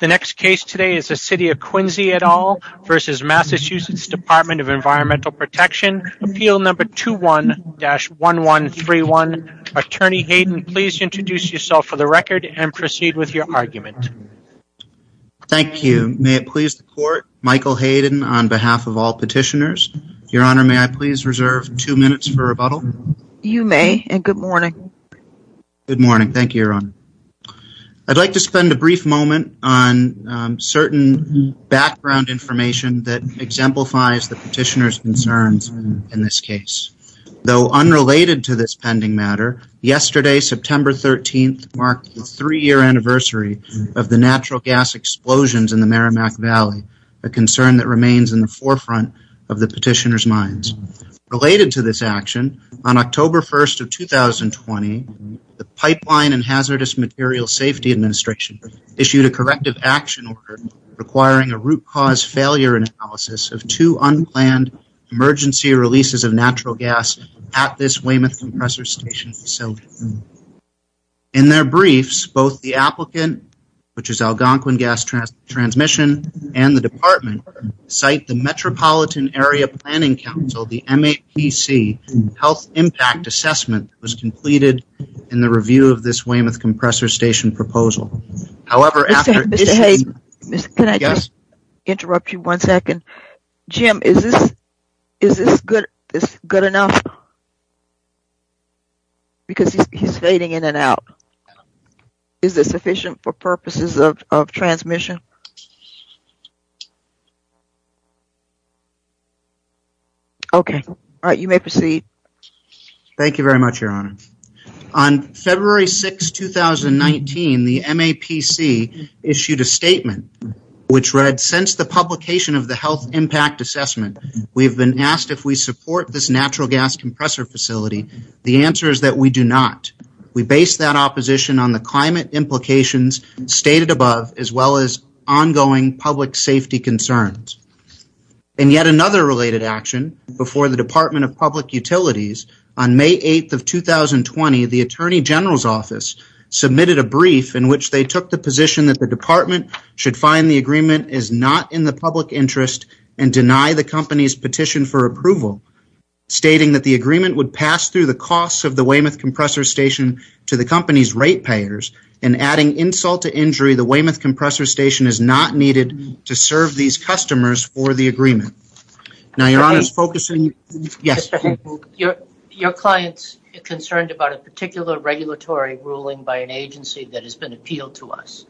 The next case today is the City of Quincy v. MA Dept. of Environmental Protection, Appeal No. 21-1131. Attorney Hayden, please introduce yourself for the record and proceed with your argument. Thank you. May it please the Court, Michael Hayden on behalf of all petitioners. Your Honor, may I please reserve two minutes for rebuttal? You may, and good morning. Good morning. Thank you, Your Honor. I'd like to spend a brief moment on certain background information that exemplifies the petitioner's concerns in this case. Though unrelated to this pending matter, yesterday, September 13th, marked the three-year anniversary of the natural gas explosions in the Merrimack Valley, a concern that remains in the forefront of the petitioner's On October 1st of 2020, the Pipeline and Hazardous Materials Safety Administration issued a corrective action order requiring a root cause failure analysis of two unplanned emergency releases of natural gas at this Weymouth Compressor Station facility. In their briefs, both the applicant, which is Algonquin Gas Transmission, and the department cite the Metropolitan Area Planning Council, the MAPC, health impact assessment was completed in the review of this Weymouth Compressor Station proposal. However, after- Mr. Hayden, can I just interrupt you one second? Jim, is this good enough? Because he's fading in and out. Is this sufficient for purposes of transmission? Okay. All right, you may proceed. Thank you very much, Your Honor. On February 6, 2019, the MAPC issued a statement which read, since the publication of the health impact assessment, we've been asked if we support this natural gas compressor facility. The answer is that we do not. We base that opposition on the climate implications stated above, as well as the environmental implications. In yet another related action, before the Department of Public Utilities, on May 8, 2020, the Attorney General's Office submitted a brief in which they took the position that the department should find the agreement is not in the public interest and deny the company's petition for approval, stating that the agreement would pass through the costs of the Weymouth Compressor Station to the company's rate payers, and adding insult to injury, the Weymouth customers for the agreement. Now, Your Honor's focusing... Your client's concerned about a particular regulatory ruling by an agency that has been appealed to us.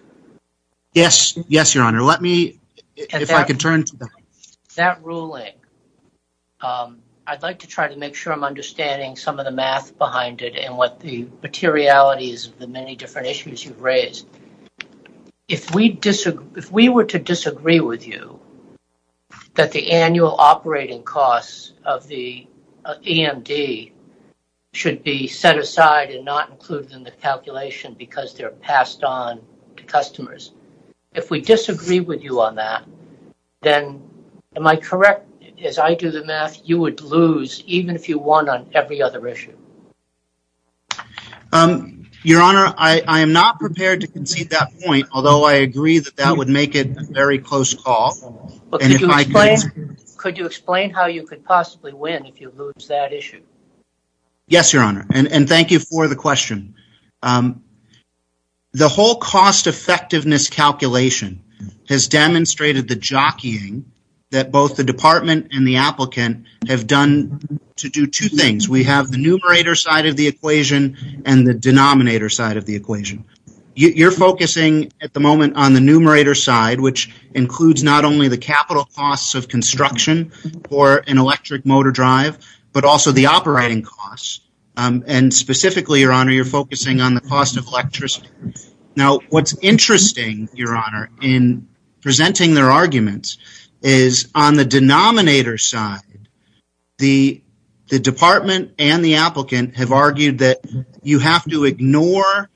Yes, Your Honor. Let me, if I can turn to... That ruling, I'd like to try to make sure I'm understanding some of the math behind it and what the materiality is of the many different issues you've raised. If we were to disagree with you that the annual operating costs of the EMD should be set aside and not included in the calculation because they're passed on to customers, if we disagree with you on that, then, am I correct, as I do the math, you would lose even if you won on every other issue? Your Honor, I am not prepared to concede that point, although I agree that that would make it a very close call. But could you explain how you could possibly win if you lose that issue? Yes, Your Honor, and thank you for the question. The whole cost effectiveness calculation has demonstrated the jockeying that both the department and the applicant have done to do two things. We have the numerator side of the equation and the denominator side of the equation. You're focusing at the moment on the numerator side, which includes not only the capital costs of construction for an electric motor drive, but also the operating costs, and specifically, Your Honor, you're focusing on the cost of electricity. Now, what's interesting, Your Honor, in presenting their arguments is on the denominator side, the department and the applicant have argued that you have to ignore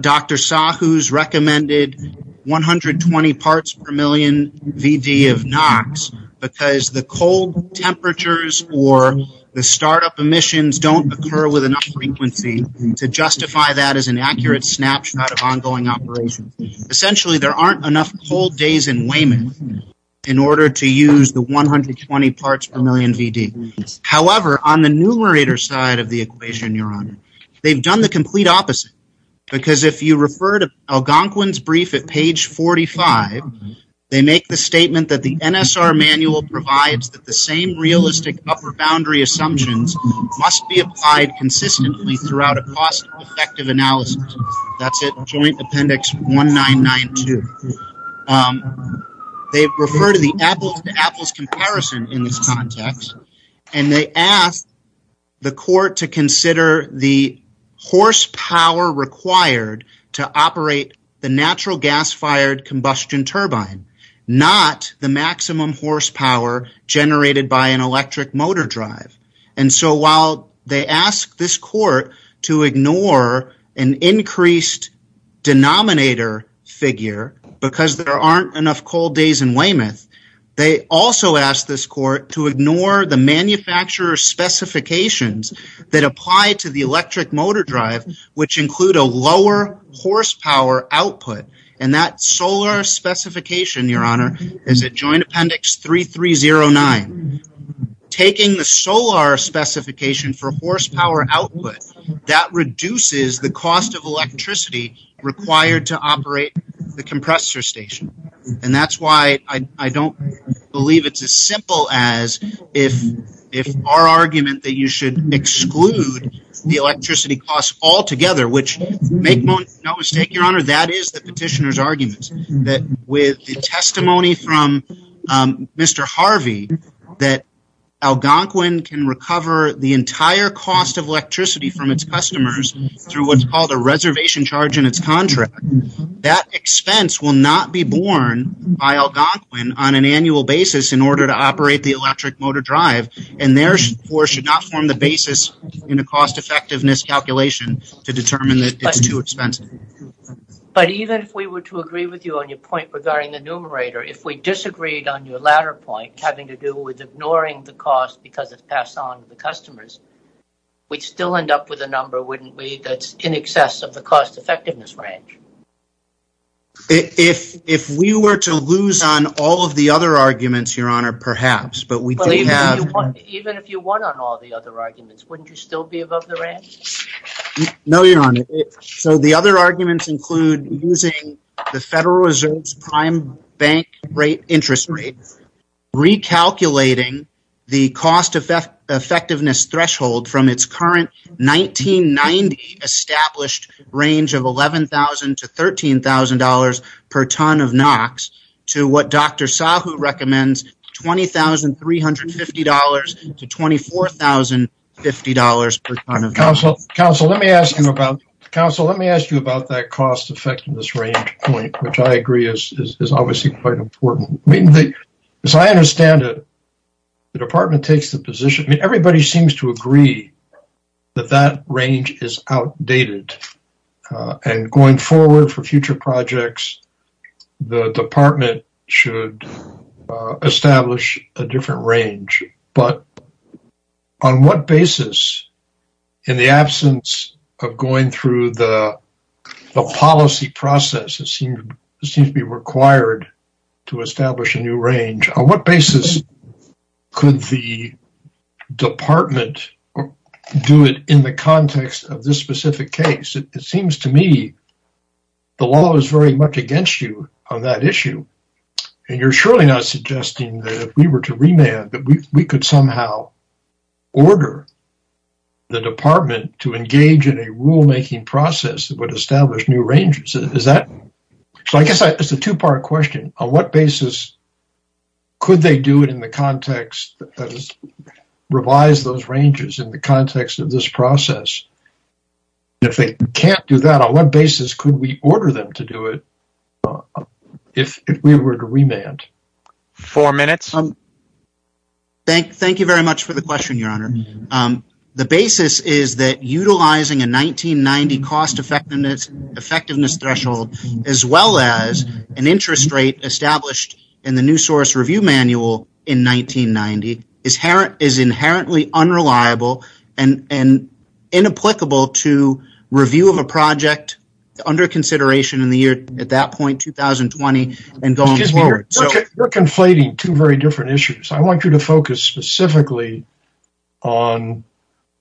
Dr. Sahu's recommended 120 parts per million VD of NOx because the cold temperatures or the startup emissions don't occur with enough frequency to justify that as an accurate snapshot of ongoing operation. Essentially, there aren't enough cold days in Weyman in order to use the 120 parts per million VD. However, on the numerator side of the equation, Your Honor, they've done the complete opposite because if you refer to Algonquin's brief at page 45, they make the statement that the NSR manual provides that same realistic upper boundary assumptions must be applied consistently throughout a cost effective analysis. That's it, Joint Appendix 1992. They refer to the apples to apples comparison in this context, and they ask the court to consider the horsepower required to operate the natural gas-fired combustion turbine, not the maximum horsepower generated by an electric motor drive. And so while they ask this court to ignore an increased denominator figure because there aren't enough cold days in Weymouth, they also ask this court to ignore the manufacturer's specifications that apply to the electric motor drive, which include a lower horsepower output. And that solar specification, Your Honor, is at Joint Appendix 3309. Taking the solar specification for horsepower output, that reduces the cost of electricity required to operate the compressor station. And that's why I don't believe it's as simple as if our argument that you should exclude the electricity costs altogether, which make no mistake, Your Honor, that is the petitioner's argument, that with the testimony from Mr. Harvey, that Algonquin can recover the entire cost of electricity from its customers through what's called a reservation charge in its contract. That expense will not be borne by Algonquin on an annual basis in order to operate the electric motor drive, and therefore should not form the basis in a cost-effectiveness calculation to determine that it's too expensive. But even if we were to agree with you on your point regarding the numerator, if we disagreed on your latter point having to do with ignoring the cost because it's passed on to the customers, we'd still end up with a number, wouldn't we, that's in excess of cost-effectiveness range. If we were to lose on all of the other arguments, Your Honor, perhaps. But even if you won on all the other arguments, wouldn't you still be above the range? No, Your Honor. So the other arguments include using the Federal Reserve's prime bank rate interest rate, recalculating the cost-effectiveness threshold from its current 1990 established range of $11,000 to $13,000 per ton of NOx to what Dr. Sahu recommends, $20,350 to $24,050 per ton of NOx. Counselor, let me ask you about that cost-effectiveness range point, which I agree is obviously quite important. I mean, as I understand it, the department takes the position, I mean, everybody seems to agree that that range is outdated. And going forward for future projects, the department should establish a different range. But on what basis, in the absence of going through the policy process, it seems to be required to establish a new range. On what basis could the department do it in the context of this specific case? It seems to me the law is very much against you on that issue. And you're surely not suggesting that if we were to remand, that we could somehow order the department to engage in a rulemaking process that would establish new ranges. So I guess it's a two-part question. On what basis could they do it in the context, that is, revise those ranges in the context of this process? If they can't do that, on what basis could we order them to do it if we were to remand? Four minutes. Thank you very much for the question, Your Honor. The basis is that utilizing a 1990 cost effectiveness threshold, as well as an interest rate established in the new source review manual in 1990, is inherently unreliable and inapplicable to review of a project under consideration in the year, at that point, 2020, and going forward. You're conflating two very different issues. I want you to focus specifically on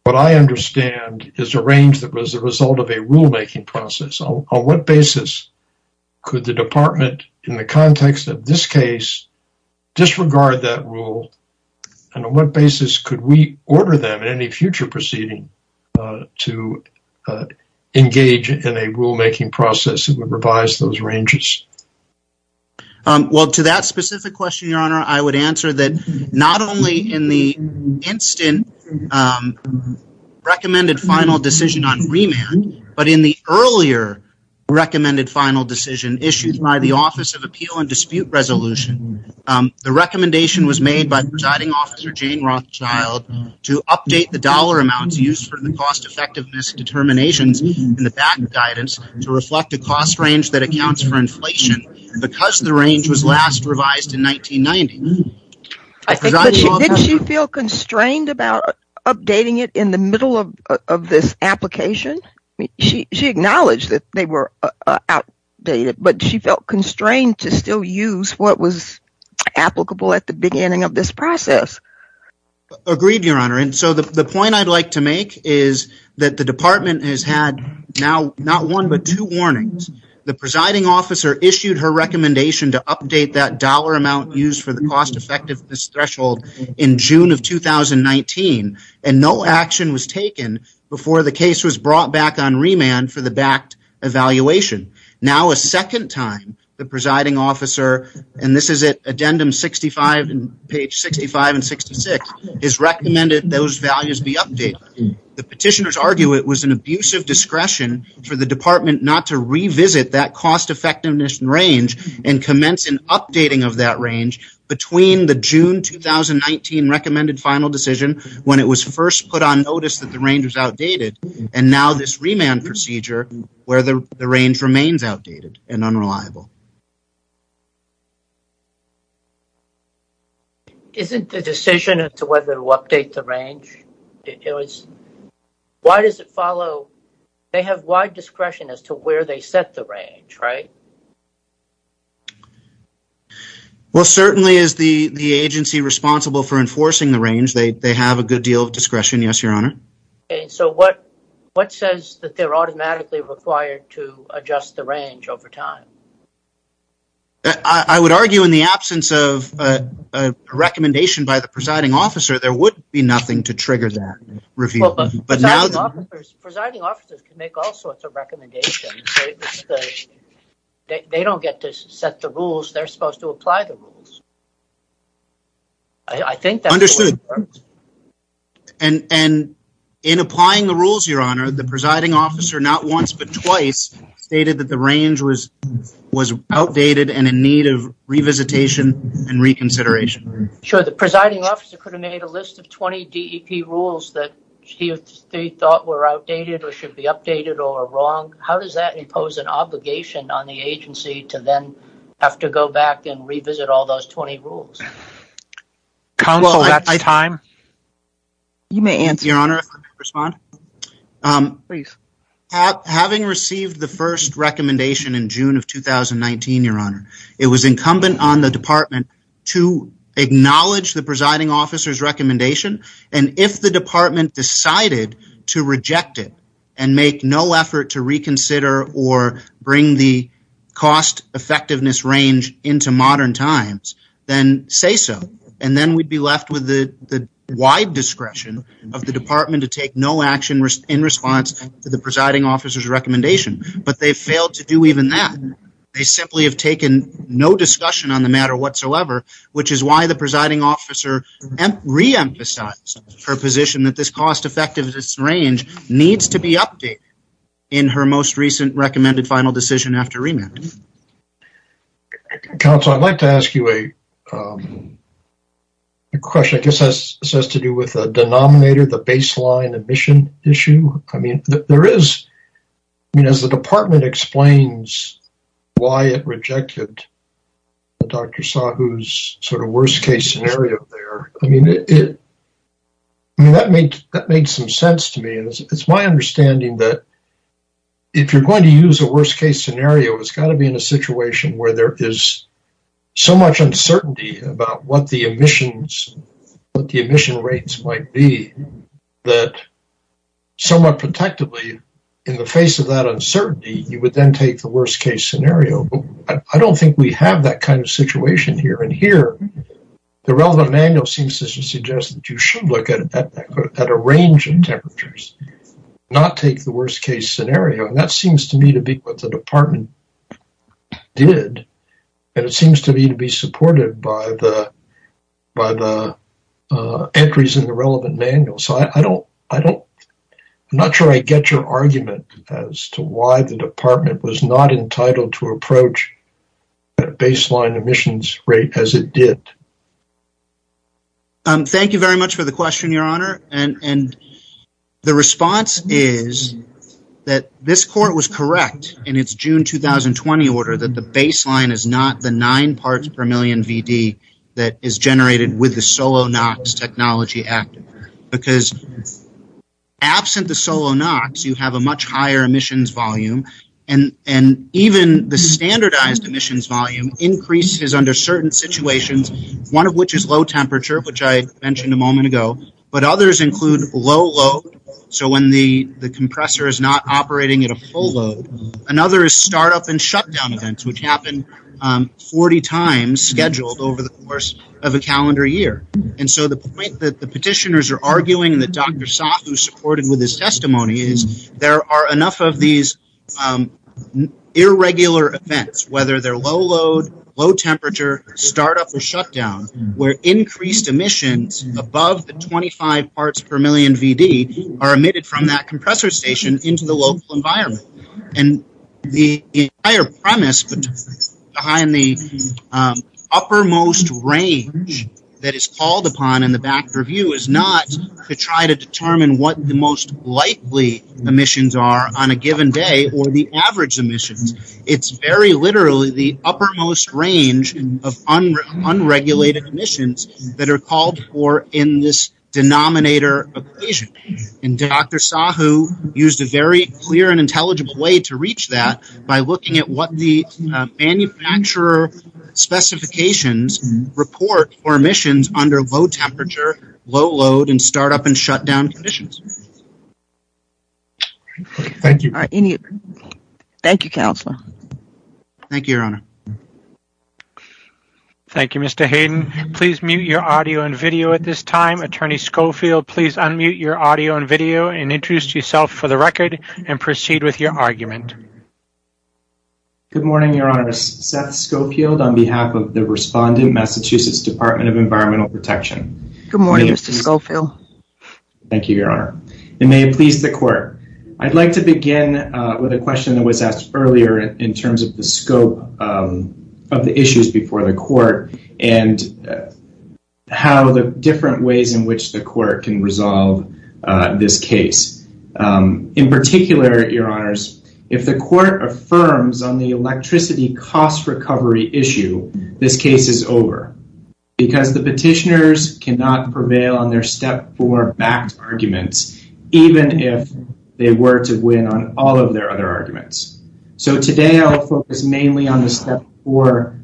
what I understand is a range that was a result of a rulemaking process. On what basis could the department, in the context of this case, disregard that rule? And on what basis could we order them in any future proceeding to engage in a rulemaking process that would revise those ranges? Well, to that specific question, Your Honor, I would answer that not only in the instant recommended final decision on remand, but in the earlier recommended final decision issued by the Office of Appeal and Dispute Resolution. The recommendation was made by the presiding officer, Jane Rothschild, to update the dollar amounts used for the cost effectiveness determinations in the back guidance to reflect a cost range that accounts for inflation, because the range was last revised in 1990. Didn't she feel constrained about updating it in the middle of this application? She acknowledged that they were outdated, but she felt constrained to still use what was applicable at the beginning of this process. Agreed, Your Honor, and so the point I'd like to make is that the department has had now not one, but two warnings. The presiding officer issued her recommendation to update that dollar amount used for the cost effectiveness threshold in June of 2019, and no action was taken before the case was brought back on remand for the backed evaluation. Now a second time, the presiding officer, and this is at addendum 65, page 65 and 66, has recommended those values be updated. The petitioners argue it was an abuse of discretion for the department not to revisit that cost effectiveness range and commence an updating of that range between the June 2019 recommended final decision, when it was first put on notice that the range was outdated, and now this remand procedure where the range remains outdated and whether to update the range. Why does it follow they have wide discretion as to where they set the range, right? Well, certainly is the agency responsible for enforcing the range. They have a good deal of discretion, yes, Your Honor. Okay, so what says that they're automatically required to adjust the range over time? I would argue in the absence of a recommendation by the presiding officer, there would be nothing to trigger that review. But now the presiding officers can make all sorts of recommendations. They don't get to set the rules, they're supposed to apply the rules. I think that's understood. And in applying the rules, Your Honor, the presiding officer not once but twice stated that the range was outdated and in need of revisitation and reconsideration. Sure, the presiding officer could have made a list of 20 DEP rules that he thought were outdated or should be updated or wrong. How does that impose an obligation on the agency to then have to go back and revisit all those 20 rules? Counsel, that's time. You may answer, Your Honor. Having received the first recommendation in June of 2019, Your Honor, it was incumbent on the department to acknowledge the presiding officer's recommendation. And if the department decided to reject it and make no effort to reconsider or bring the cost-effectiveness range into modern times, then say so. And then we'd be left with the wide discretion of the department to take no action in response to the presiding officer's recommendation. But they failed to do even that. They simply have taken no discussion on the matter whatsoever, which is why the presiding officer re-emphasized her position that this cost-effectiveness range needs to be updated in her most recent recommended final decision after remand. Counsel, I'd like to ask you a question. I guess this has to do with the denominator, the baseline emission issue. There is, as the department explains why it rejected Dr. Sahu's sort of worst-case scenario there, that made some sense to me. It's my understanding that if you're going to use a worst-case scenario, it's got to be in a situation where there is so much uncertainty about what the emissions, what the emission rates might be, that somewhat protectively, in the face of that uncertainty, you would then take the worst-case scenario. I don't think we have that kind of situation here. And here, the relevant manual seems to suggest that you should look at a range of temperatures, not take the worst-case scenario. And that seems to me to be what the department did. And it seems to me to be supported by the entries in the relevant manual. So, I'm not sure I get your argument as to why the department was not entitled to approach a baseline emissions rate as it did. Thank you very much for the question, Your Honor. And the response is that this court was correct in its June 2020 order that the baseline is not the nine parts per million VD that is generated with the solo NOx technology active. Because absent the solo NOx, you have a much higher emissions volume. And even the standardized emissions volume increases under certain situations, one of which is low temperature, which I mentioned a moment ago, but others include low load. So, when the compressor is not operating at a full load, another is startup and shutdown events, which happened 40 times scheduled over the course of a calendar year. And so, the point that the petitioners are arguing that Dr. Saathu supported with his testimony is there are enough of these irregular events, whether they're low load, low temperature, startup, or shutdown, where increased emissions above the 25 parts per million VD are emitted from that compressor station into the local environment. And the premise behind the uppermost range that is called upon in the back review is not to try to determine what the most likely emissions are on a given day or the average emissions. It's very literally the uppermost range of unregulated emissions that are called for in this denominator equation. And Dr. Saathu used a very clear and intelligible way to reach that by looking at what the manufacturer specifications report for emissions under low temperature, low load, and startup and shutdown conditions. Thank you. All right. Thank you, Counselor. Thank you, Your Honor. Thank you, Mr. Hayden. Please mute your audio and video at this time. Attorney Schofield, please unmute your audio and video and introduce yourself for the record and proceed with your argument. Good morning, Your Honor. Seth Schofield on behalf of the responding Massachusetts Department of Environmental Protection. Good morning, Mr. Schofield. Thank you, Your Honor. And may it please the court. I'd like to begin with a question that was asked earlier in terms of the scope of the issues before the court and how the different ways in which the court can resolve this case. In particular, Your Honors, if the court affirms on the electricity cost recovery issue, this case is over because the petitioners cannot prevail on their Step 4-backed arguments, even if they were to win on all of their other arguments. So today, I'll focus mainly on the Step 4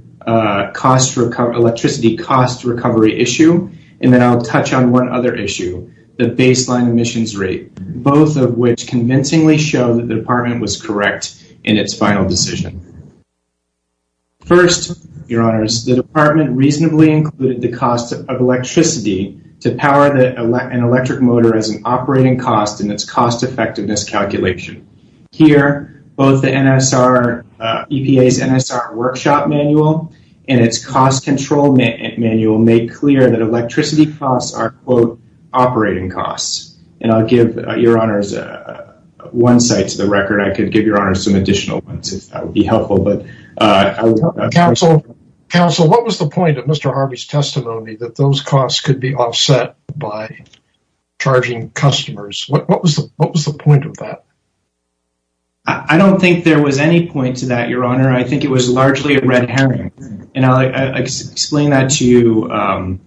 electricity cost recovery issue, and then I'll touch on one other issue, the baseline emissions rate, both of which convincingly show that the department was correct in its final decision. First, Your Honors, the department reasonably included the cost of electricity to power an electric motor as an operating cost in its cost-effectiveness calculation. Here, both the NSR EPA's NSR workshop manual and its cost control manual make clear that electricity costs are, quote, operating costs. And I'll give Your Honors one side to the record. I could give Your Honors some additional ones if that would be helpful. Counsel, what was the point of Mr. Harvey's testimony that those costs could be offset by charging customers? What was the point of that? I don't think there was any point to that, Your Honor. I think it was largely a red herring, and I'll explain that to you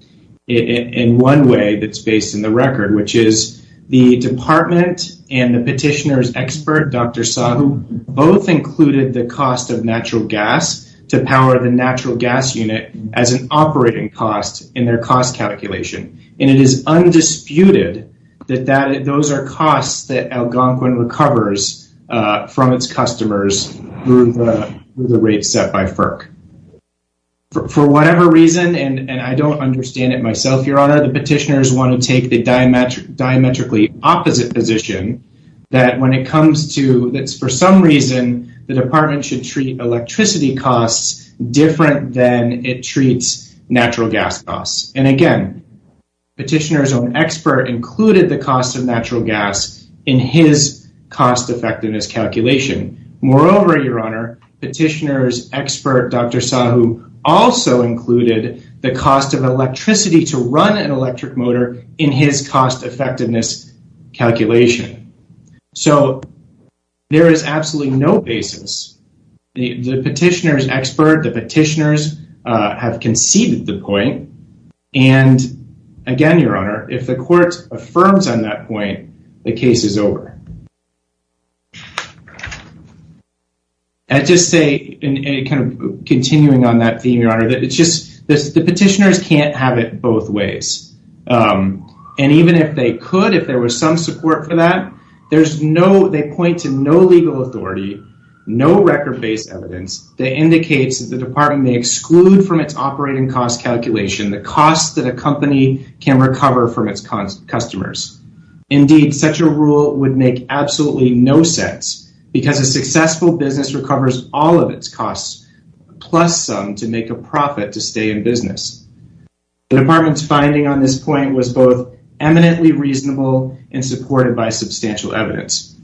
in one way that's based in the record, which is the department and the petitioner's expert, Dr. Sahu, both included the cost of natural gas to power the natural gas unit as an operating cost in their cost calculation. And it is undisputed that those are costs that Algonquin recovers from its customers through the rate set by FERC. For whatever reason, and I don't understand it myself, Your Honor, the petitioners want to take the diametrically opposite position that when it comes to, that's for some reason, the department should treat electricity costs different than it treats natural gas costs. And again, the petitioner's own expert included the cost of natural gas in his cost effectiveness calculation. Moreover, Your Honor, petitioner's expert, Dr. Sahu, also included the cost of electricity to run an electric motor in his cost effectiveness calculation. So there is absolutely no basis. The petitioner's expert, the petitioners have conceded the point. And again, Your Honor, if the court affirms on that point, the case is over. I just say, and kind of continuing on that theme, Your Honor, that it's the petitioners can't have it both ways. And even if they could, if there was some support for that, there's no, they point to no legal authority, no record-based evidence that indicates that the department may exclude from its operating cost calculation the cost that a company can recover from its customers. Indeed, such a rule would make absolutely no sense because a successful business recovers all of its costs, plus some to make a profit to stay in business. The department's finding on this point was both eminently reasonable and supported by substantial evidence.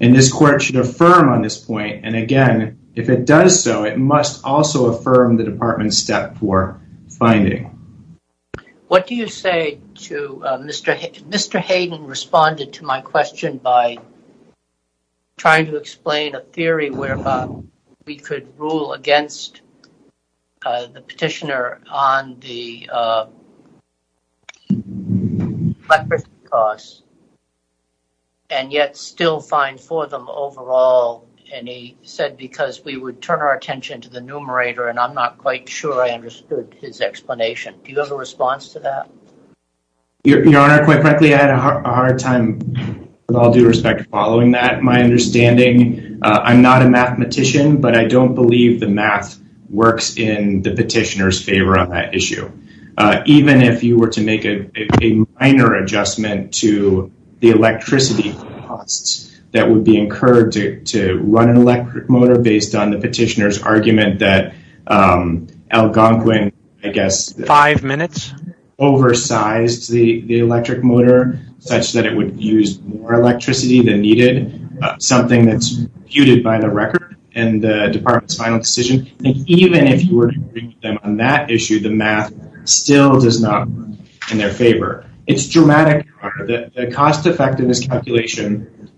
And this court should affirm on this point. And again, if it does so, it must also affirm the department's step for finding. What do you say to Mr. Hayden? Mr. Hayden responded to my question by trying to explain a theory whereby we could rule against the petitioner on the electric cost and yet still find for them overall. And he said, because we would turn our attention to the numerator and I'm not quite sure I understood his explanation. Do you have a With all due respect, following that, my understanding, I'm not a mathematician, but I don't believe the math works in the petitioner's favor on that issue. Even if you were to make a minor adjustment to the electricity costs that would be incurred to run an electric motor based on the petitioner's argument that Algonquin, I guess, five minutes, oversized the electric motor such that it would use more electricity than needed. Something that's puted by the record and the department's final decision. And even if you were to bring them on that issue, the math still does not work in their favor. It's dramatic. The cost effectiveness calculation,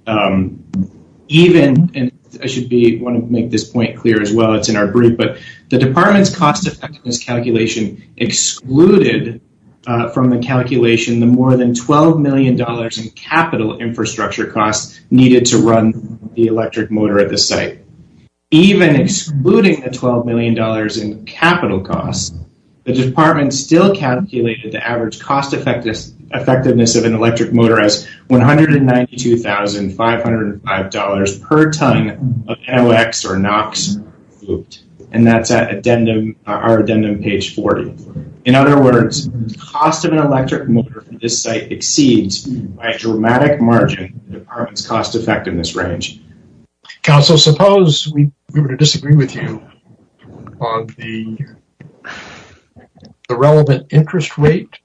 even, and I should be wanting to make this point clear as it's in our brief, but the department's cost effectiveness calculation excluded from the calculation, the more than $12 million in capital infrastructure costs needed to run the electric motor at the site. Even excluding the $12 million in capital costs, the department still calculated the average cost effectiveness of an electric motor as $192,505 per ton of MOX or NOx looped. And that's at our addendum page 40. In other words, the cost of an electric motor from this site exceeds by a dramatic margin the department's cost effectiveness range. Council, suppose we were to disagree with you on the relevant interest rate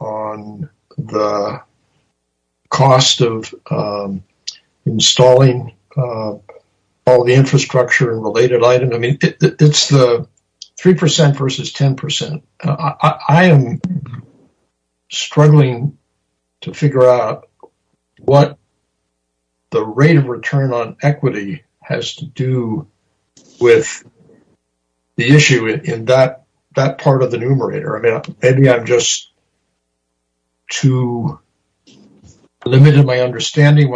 on the cost of installing all the infrastructure and related item. I mean, it's the 3% versus 10%. I am struggling to figure out what the rate of return on equity has to do with the issue in that part of the numerator. I mean, maybe I'm just too limited in my understanding.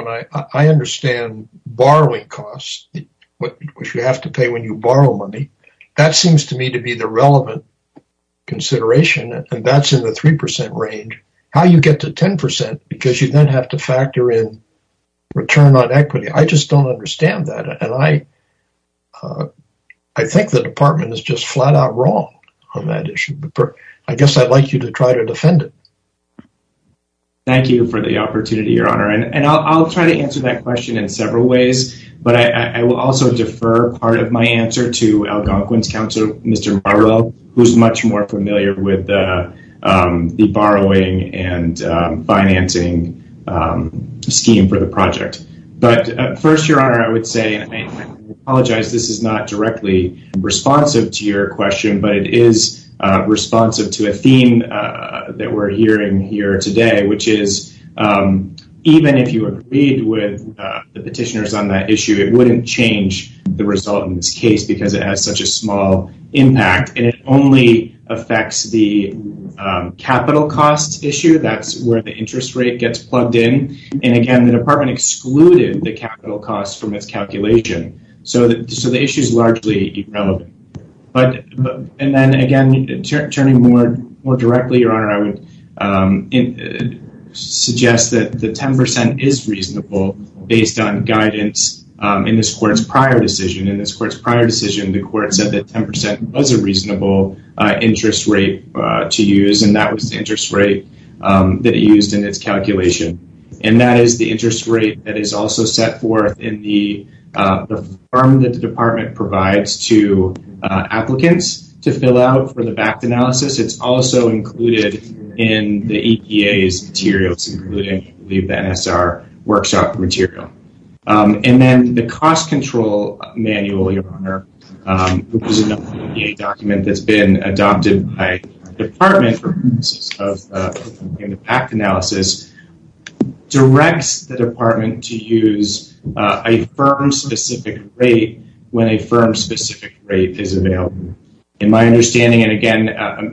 I understand borrowing costs, which you have to pay when you borrow money. That seems to me to be the relevant consideration, and that's in the 3% range. How you get to 10% because you then have to factor in return on equity, I just don't understand that. And I think the department is just flat out wrong on that issue. I guess I'd like you to try to defend it. Thank you for the opportunity, Your Honor. And I'll try to answer that question in several ways, but I will also defer part of my answer to Algonquin's Council, Mr. Marlowe, who's much more familiar with the borrowing and financing scheme for the project. But first, Your Honor, I would say, and I apologize, this is not directly responsive to your question, but it is responsive to a theme that we're hearing here today, which is even if you agreed with the petitioners on that issue, it wouldn't change the result in this case because it has such a small impact, and it only affects the capital costs issue. That's where the interest rate gets plugged in. And again, the department excluded the capital costs from its calculation, so the issue is largely irrelevant. And then again, turning more directly, Your Honor, I would suggest that the 10% is reasonable based on guidance in this court's prior decision. In this court's prior decision, the court said that 10% was a reasonable interest rate to use, and that was the interest rate that it used in its calculation. And that is the interest rate that is also set forth in the form that the department provides to applicants to fill out for the VACT analysis. It's also included in the EPA's materials, including, I believe, the NSR workshop material. And then the cost control manual, Your Honor, which is another EPA document that's been adopted by the department for purposes of the VACT analysis, directs the department to use a firm-specific rate when a firm-specific rate is available. In my understanding, and again,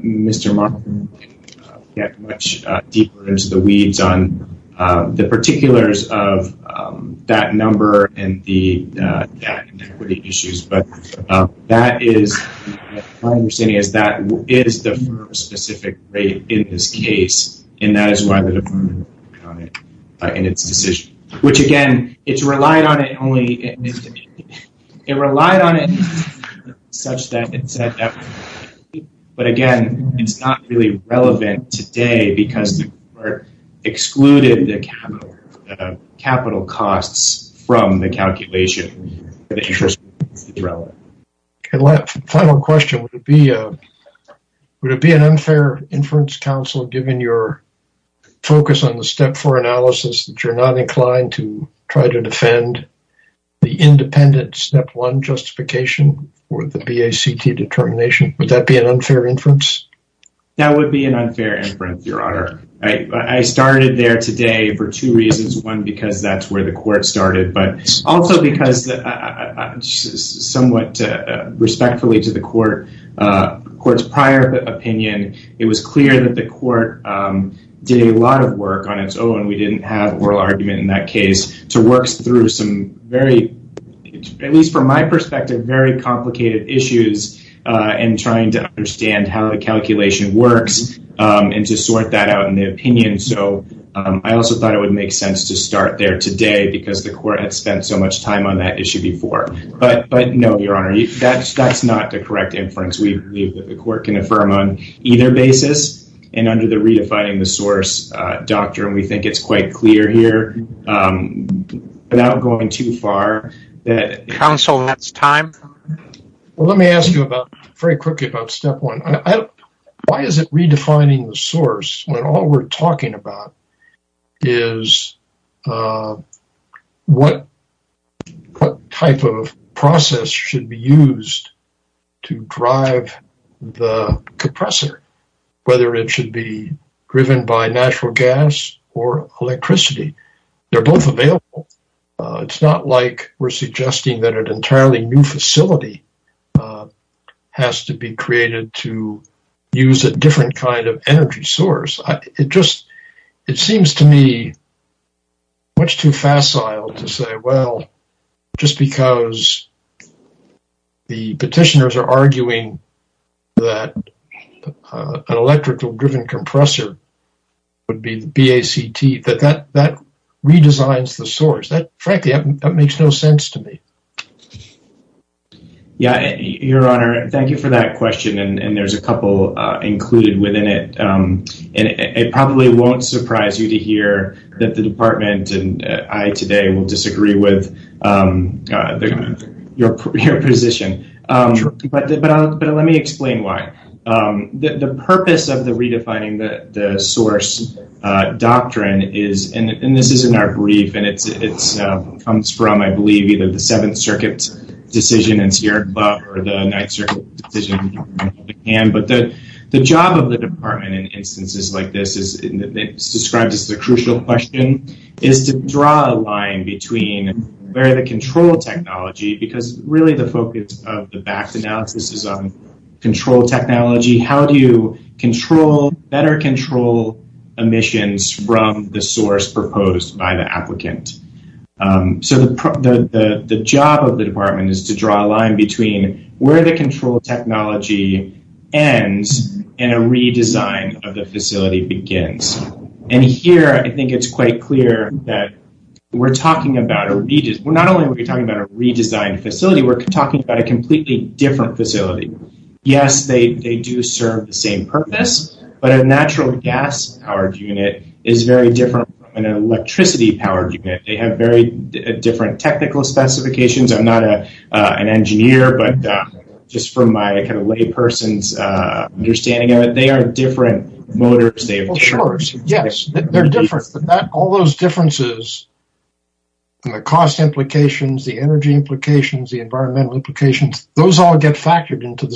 Mr. Martin can get much deeper into the weeds on the particulars of that number and the issues, but my understanding is that is the firm-specific rate in this case, and that is why the department relied on it in its decision. Which again, it's relied on it only such that it's at that point. But again, it's not really relevant today because the court excluded the capital costs from the calculation. The interest rate is irrelevant. Final question. Would it be an unfair inference, counsel, given your focus on the step four analysis, that you're not inclined to try to defend the independent step one justification for the VACT determination? Would that be an unfair inference? That would be an unfair inference, Your Honor. I started there today for two reasons. One, because that's where the court started, but also because, somewhat respectfully to the court's prior opinion, it was clear that the court did a lot of work on its own. We didn't have oral argument in that case to work through some very, at least from my perspective, very complicated issues in trying to understand how the calculation works and to sort that out in the opinion. So, I also thought it would make sense to start there today because the court had spent so much time on that issue before. But no, Your Honor, that's not the correct inference. We believe that the court can affirm on either basis and under the redefining the source doctrine, we think it's quite clear here without going too far. Counsel, that's time. Well, let me ask you about, very quickly, about step one. Why is it redefining the source when all we're talking about is what type of process should be used to drive the compressor, whether it should be driven by natural gas or electricity? They're both available. It's not like we're suggesting that an entirely new facility has to be created to use a different kind of energy source. It just, it seems to me much too facile to say, well, just because the petitioners are arguing that an electrical driven compressor would be the BACT, that that redesigns the source. Frankly, that makes no sense to me. Yeah, Your Honor, thank you for that question. And there's a couple included within it. And it probably won't surprise you to hear that the department and I today will disagree with your position. But let me explain why. The purpose of the redefining the source doctrine is, and this is in our brief, and it comes from, I believe, either the Seventh Circuit's decision in Sierra Club or the Ninth Circuit decision. But the job of the department in instances like this is described as the crucial question. Is to draw a line between where the control technology, because really the focus of the BACT analysis is on control technology. How do you control, better control emissions from the source proposed by the applicant? So the job of the department is to draw a line between where the control technology ends and a redesign of the facility begins. And here, I think it's quite clear that we're talking about, not only are we talking about a redesigned facility, we're talking about a completely different facility. Yes, they do serve the same purpose, but a natural gas powered unit is very different from an electricity powered unit. They have very different technical specifications. I'm not an engineer, but just from my kind of lay person's understanding of it, they are different motors. They have different- Yes, they're different. All those differences in the cost implications, the energy implications, the environmental implications, those all get factored into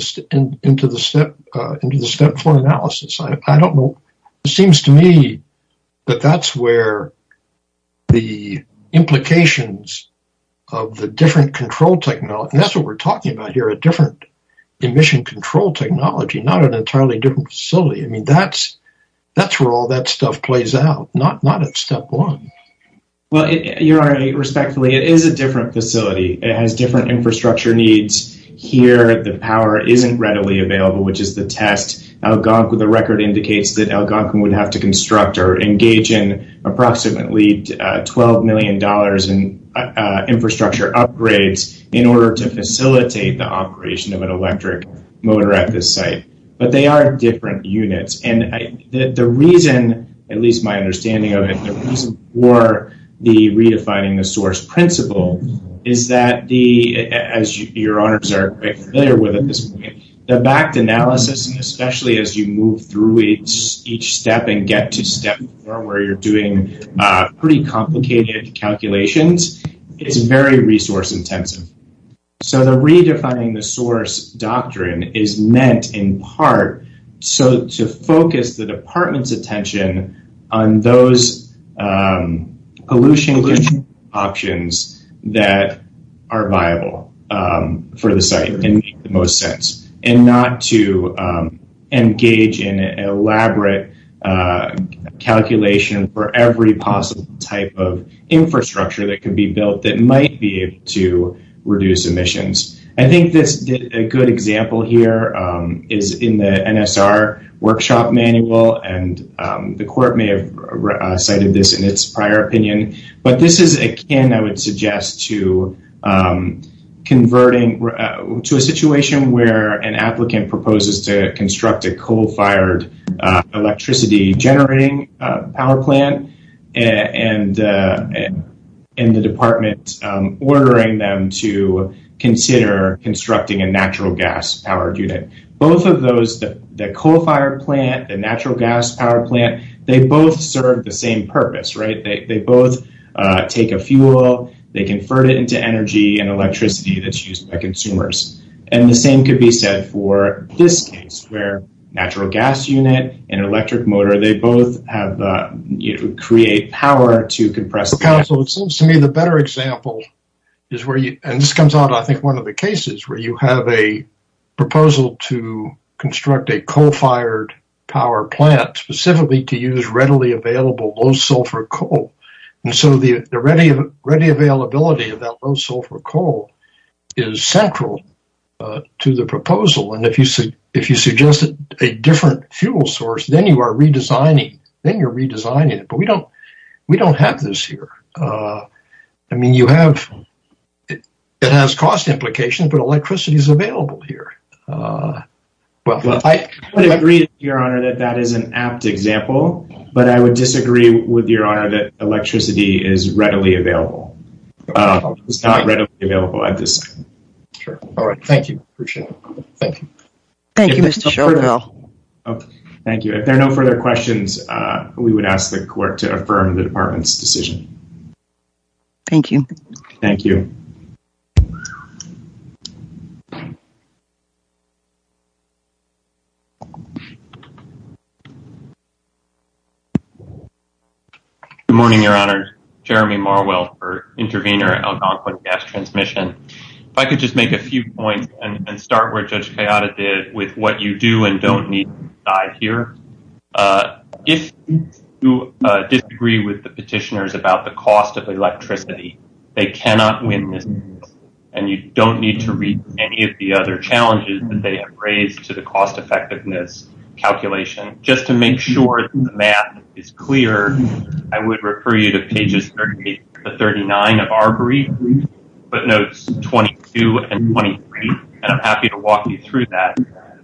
the step four analysis. I don't know. It seems to me that that's where the implications of the different control technology, and that's what we're talking about here, a different emission control technology, not an entirely different facility. I mean, that's where all that stuff plays out, not at step one. Well, you're right, respectfully, it is a different facility. It has different infrastructure needs. Here, the power isn't readily available, which is the test. Algonquin, the record indicates that Algonquin would have to construct or engage in approximately $12 million in infrastructure upgrades in order to facilitate the operation of an electric motor at this site, but they are different units. The reason, at least my understanding of it, the reason for the redefining the source principle is that, as your honors are quite familiar with at this point, the backed analysis, and especially as you move through each step and get to step four where you're doing pretty complicated calculations, it's very resource intensive. So, the redefining the source doctrine is meant in part to focus the department's attention on those pollution control options that are viable for the site and make the most sense, and not to engage in an elaborate calculation for every possible type of infrastructure that could be built that might be able to reduce emissions. I think a good example here is in the NSR workshop manual, and the court may have cited this in its prior opinion, but this is akin, I would suggest, to converting to a situation where an applicant proposes to construct a coal-fired electricity generating power plant, and the department ordering them to consider constructing a natural gas-powered unit. Both of those, the coal-fired plant, the natural gas-powered plant, they both serve the same purpose, right? They both take a fuel, they convert it into energy and electricity that's used by consumers. And the same could be said for this case, where natural gas unit and electric motor, they both have, you know, create power to compress. Counsel, it seems to me the better example is where you, and this comes out, I think, one of the cases where you have a proposal to construct a coal-fired power plant specifically to use readily available low-sulfur coal. And so, the ready availability of that low-sulfur coal is central to the proposal. And if you suggested a different fuel source, then you are redesigning, then you are redesigning it. But we don't have this here. I mean, you have, it has cost implications, but electricity is available here. Well, I agree, Your Honor, that that is an apt example. But I would disagree with Your Honor that electricity is readily available. It's not readily available at this time. Sure. All right. Thank you. Appreciate it. Thank you. Thank you, Mr. Schoenfeld. Okay. Thank you. If there are no further questions, we would ask the Court to affirm the Department's decision. Thank you. Thank you. Good morning, Your Honor. Jeremy Marwell for Intervenor Algonquin Gas Transmission. If I could just make a few points and start where Judge Cayada did with what you do and don't need to decide here. If you disagree with the petitioners about the cost of electricity, they cannot win this case. And you don't need to read any of the other challenges that they have raised to the cost-effectiveness calculation. Just to make sure the math is clear, I would refer you to pages 38 to 39 of our brief, footnotes 22 and 23, and I'm happy to walk you through that.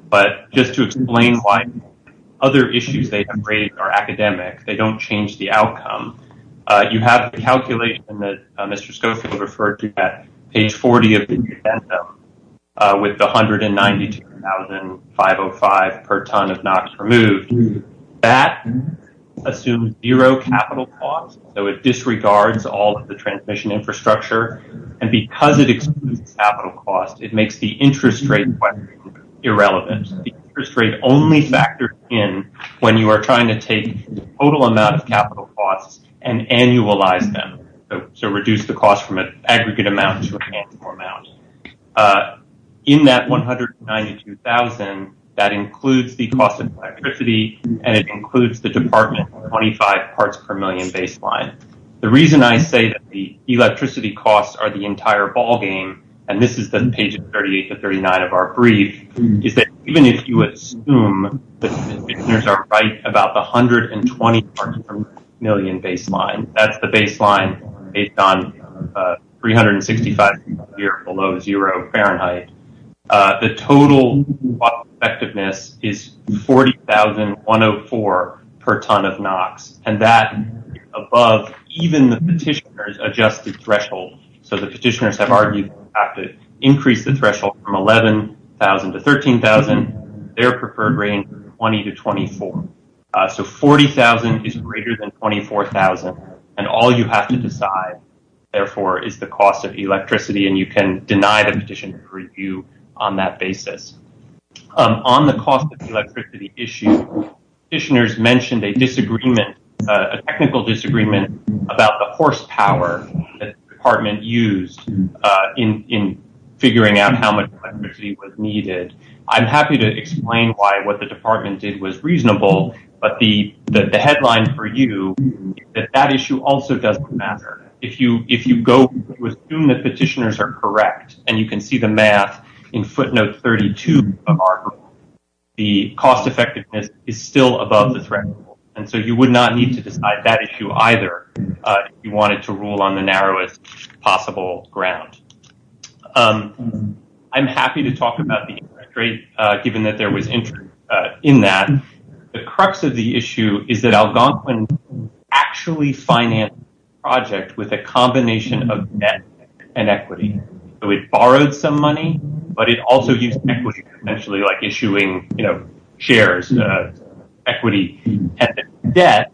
But just to explain why other issues they have raised are academic, they don't change the outcome. You have the calculation that Mr. Schoenfeld referred to at page 40 of the agenda with the $192,505 per ton of NOx removed. That assumes zero capital costs, so it disregards all of the transmission infrastructure. And because it excludes capital costs, it makes the interest rate irrelevant. The interest rate only factors in when you are trying to take the total amount of capital costs and annualize them. So reduce the aggregate amount to a handful amount. In that $192,000, that includes the cost of electricity, and it includes the department's 25 parts per million baseline. The reason I say that the electricity costs are the entire ballgame, and this is the pages 38 to 39 of our brief, is that even if you assume the commissioners are right about the 120 parts per million baseline, that's the baseline based on 365 degrees below zero Fahrenheit, the total effectiveness is $40,104 per ton of NOx. And that is above even the petitioner's adjusted threshold. So the petitioners have argued to increase the threshold from $11,000 to $13,000. Their preferred range is 20 to 24. So $40,000 is greater than $24,000, and all you have to decide, therefore, is the cost of electricity, and you can deny the petitioner's review on that basis. On the cost of electricity issue, petitioners mentioned a disagreement, a technical disagreement about the horsepower that the department used in figuring out how much the department did was reasonable, but the headline for you is that that issue also doesn't matter. If you go to assume that petitioners are correct, and you can see the math in footnote 32 of our group, the cost effectiveness is still above the threshold, and so you would not need to decide that issue either if you wanted to rule on the narrowest possible ground. I'm happy to talk about the interest rate, given that there was interest in that. The crux of the issue is that Algonquin actually financed the project with a combination of debt and equity. So it borrowed some money, but it also used equity, essentially, like issuing, you know, shares, equity, and debt.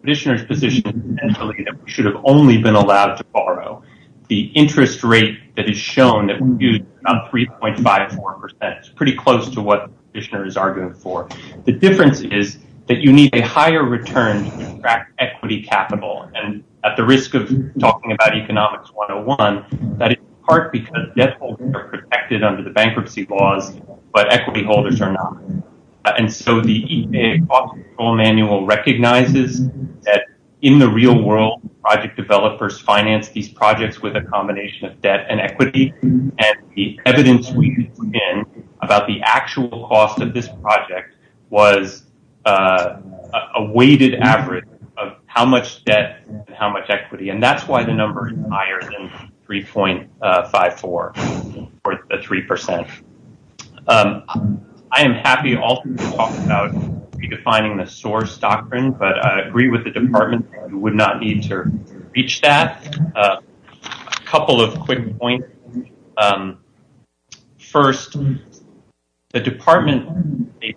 Petitioner's position is essentially that we should have only been allowed to borrow. The interest rate that is shown that we used is about 3.54%. It's pretty close to what the petitioner is arguing for. The difference is that you need a higher return to extract equity capital, and at the risk of talking about economics 101, that is in part because debt holders are protected under the bankruptcy laws, but equity holders are not. And so the EPA cost control manual recognizes that in the real world, project developers finance these projects with a combination of debt and equity, and the evidence we can bring in about the actual cost of this project was a weighted average of how much debt and how much equity, and that's why the number is higher than 3.54, or the 3%. I am happy to talk about redefining the source doctrine, but I agree with the department that we would not need to reach that. A couple of quick points. First, the department made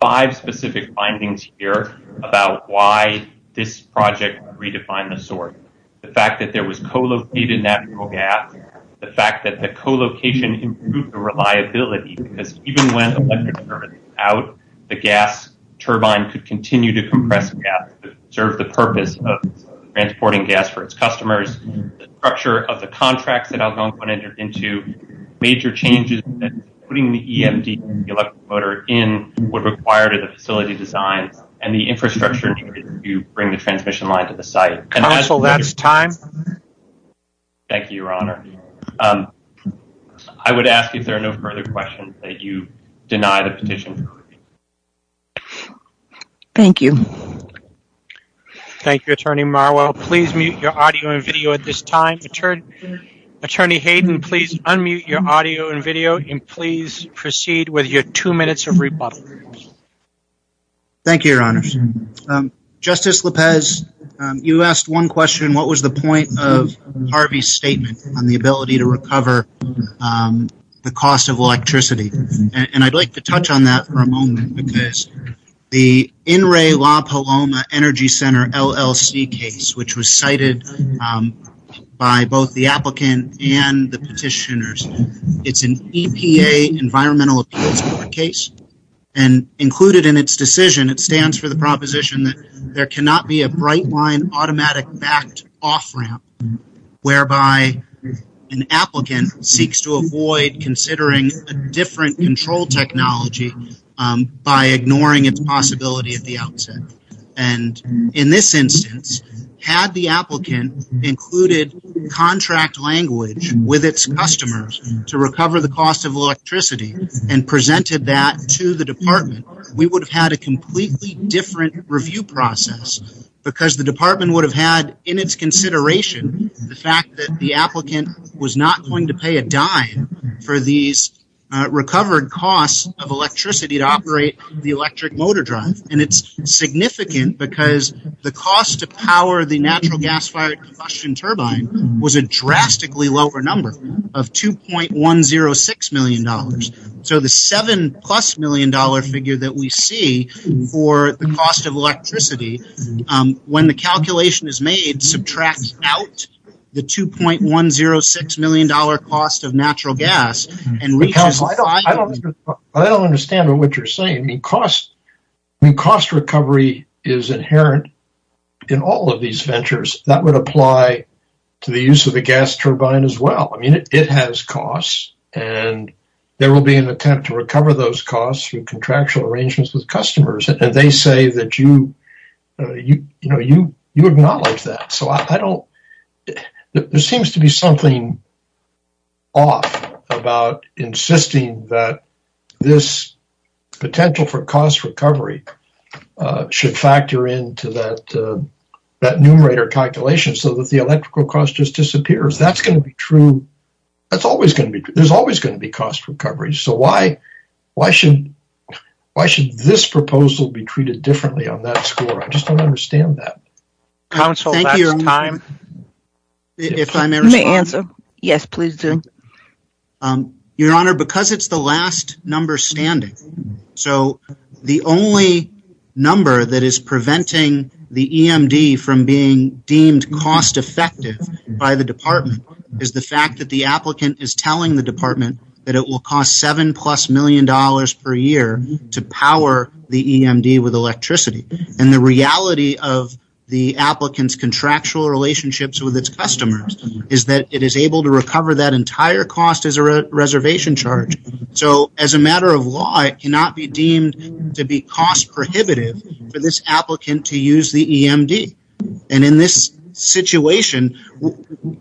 five specific findings here about why this project would redefine the source. The fact that there was co-located natural gas, the fact that the co-location improved the reliability, because even when the electric turbine was out, the gas turbine could continue to compress gas to serve the purpose of transporting gas for its customers, the structure of the contracts that Algonquin entered into, major changes that putting the EMD and the electric motor in would require to the facility designs, and the infrastructure needed to bring the transmission line to the site. Counsel, that's time. Thank you, Your Honor. I would ask if there are no further questions, that you deny the petition. Thank you. Thank you, Attorney Marwell. Please mute your audio and video at this time. Attorney Hayden, please unmute your audio and video, and please proceed with your two minutes of rebuttal. Thank you, Your Honors. Justice Lopez, you asked one question, what was the point of Harvey's statement on the ability to recover the cost of electricity? And I'd like to touch on that for a moment, because the In Re La Paloma Energy Center LLC case, which was cited by both the applicant and the petitioners, it's an EPA environmental appeals court case, and included in its decision, it stands for the proposition that there cannot be a bright line automatic backed off ramp, whereby an applicant seeks to avoid considering a different control technology by ignoring its possibility at the outset. And in this instance, had the applicant included contract language with its customers to recover the cost of electricity and presented that to the department, we would have had a completely different review process, because the department would have had in its consideration, the fact that the applicant was not going to pay a dime for these recovered costs of electricity to operate the electric motor drive. And it's power the natural gas fire combustion turbine was a drastically lower number of $2.106 million. So the seven plus million dollar figure that we see for the cost of electricity, when the calculation is made, subtracts out the $2.106 million cost of natural gas. And I don't understand what you're saying. The cost, the cost recovery is inherent in all of these ventures that would apply to the use of the gas turbine as well. I mean, it has costs, and there will be an attempt to recover those costs through contractual arrangements with customers. And they say that you acknowledge that. So I don't, there seems to be something off about insisting that this potential for cost recovery should factor into that numerator calculation so that the electrical cost just disappears. That's going to be true. That's always going to be true. There's always going to be cost recovery. So why should this proposal be treated differently on that score? I just don't understand that. Thank you. If I may answer. Yes, please do. Your Honor, because it's the last number standing. So the only number that is preventing the EMD from being deemed cost effective by the department is the fact that the applicant is telling the department that it will cost seven plus million dollars per year to power the EMD with electricity. And the reality of the applicant's contractual relationships with its customers is that it is able to recover that entire cost as a reservation charge. So as a matter of law, it cannot be deemed to be cost prohibitive for this applicant to use the EMD. And in this situation,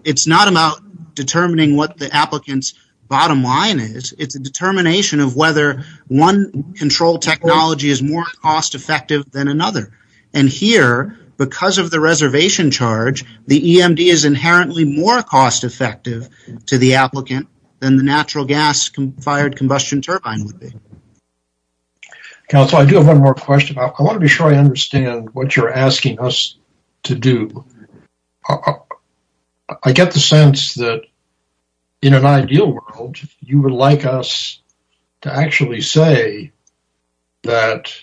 it's not about determining what the applicant's bottom line is. It's a determination of whether one control technology is more cost effective than another. And here, because of the reservation charge, the EMD is inherently more cost effective to the applicant than the natural gas fired combustion turbine would be. Counselor, I do have one more question. I want to be sure I understand what you're asking us to do. I get the sense that in an ideal world, you would like us to actually say that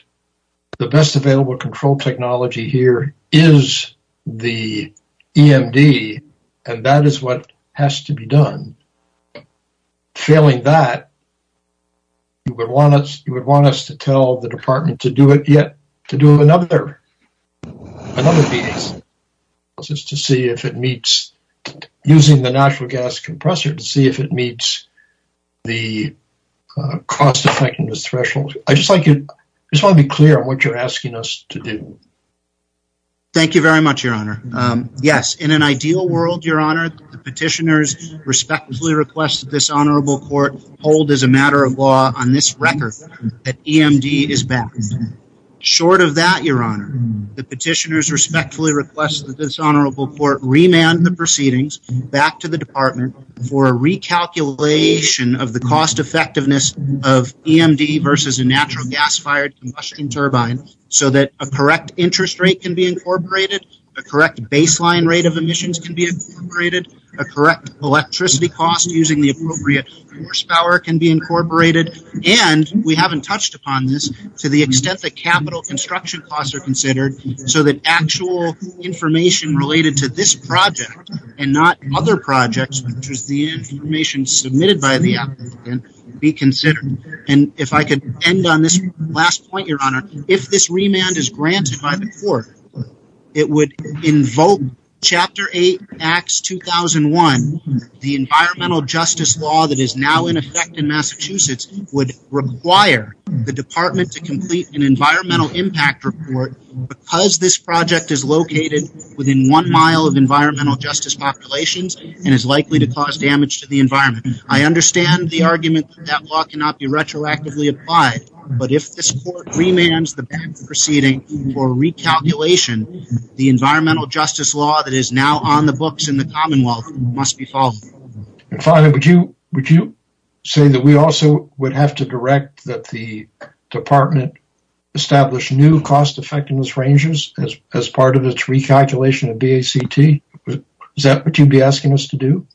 the best available control technology here is the EMD, and that is what has to be done. Failing that, you would want us to tell the department to do another analysis to see if it meets using the natural gas compressor to see if it meets the cost effectiveness threshold. I just want to be clear on what you're asking us to do. Thank you very much, Your Honor. Yes, in an ideal world, Your Honor, the petitioners respectfully request that this honorable court hold as a matter of law on this record that EMD is back. Short of that, Your Honor, the petitioners respectfully request that this honorable court remand the proceedings back to the department for a recalculation of the cost effectiveness of EMD versus a natural gas fired combustion turbine so that a correct interest rate can be incorporated, a correct baseline rate of emissions can be incorporated, a correct electricity cost using the appropriate horsepower can be incorporated, and we haven't touched upon this to the extent that capital construction costs are considered so that actual information related to this project and not other projects, which is the information submitted by the applicant, be considered. And if I could end on this last point, Your Honor, if this remand is granted by the court, it would invoke Chapter 8, Acts 2001, the environmental justice law that is now in effect in Massachusetts would require the department to complete an environmental impact report because this project is located within one mile of environmental justice populations and is likely to cause damage to the environment. I understand the argument that law cannot be retroactively applied, but if this court remands the proceeding for recalculation, the environmental justice law that is now on the books in the commonwealth must be followed. And finally, would you say that we also would have to direct that the department establish new cost effectiveness ranges as part of its recalculation of DACT? Is that what you'd be asking us to do?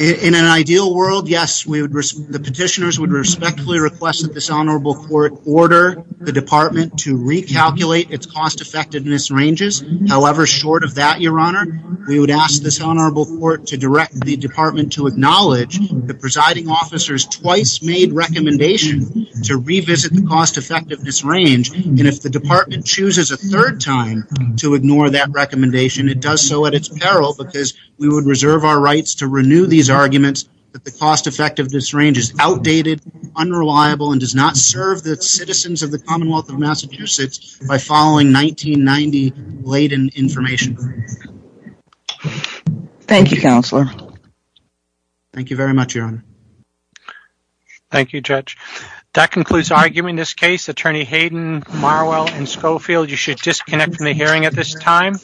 In an ideal world, yes, the petitioners would respectfully request that this honorable court order the department to recalculate its cost effectiveness ranges. However, short of that, Your Honor, we would ask this honorable court to direct the department to acknowledge the presiding officer's twice made recommendation to revisit the cost effectiveness range. And if the department chooses a third time to ignore that recommendation, it does so at its peril because we would reserve our rights to outdated, unreliable, and does not serve the citizens of the commonwealth of Massachusetts by following 1990-laden information. Thank you, Counselor. Thank you very much, Your Honor. Thank you, Judge. That concludes our argument in this case. Attorney Hayden, Marwell, and Schofield, you should disconnect from the hearing at this time.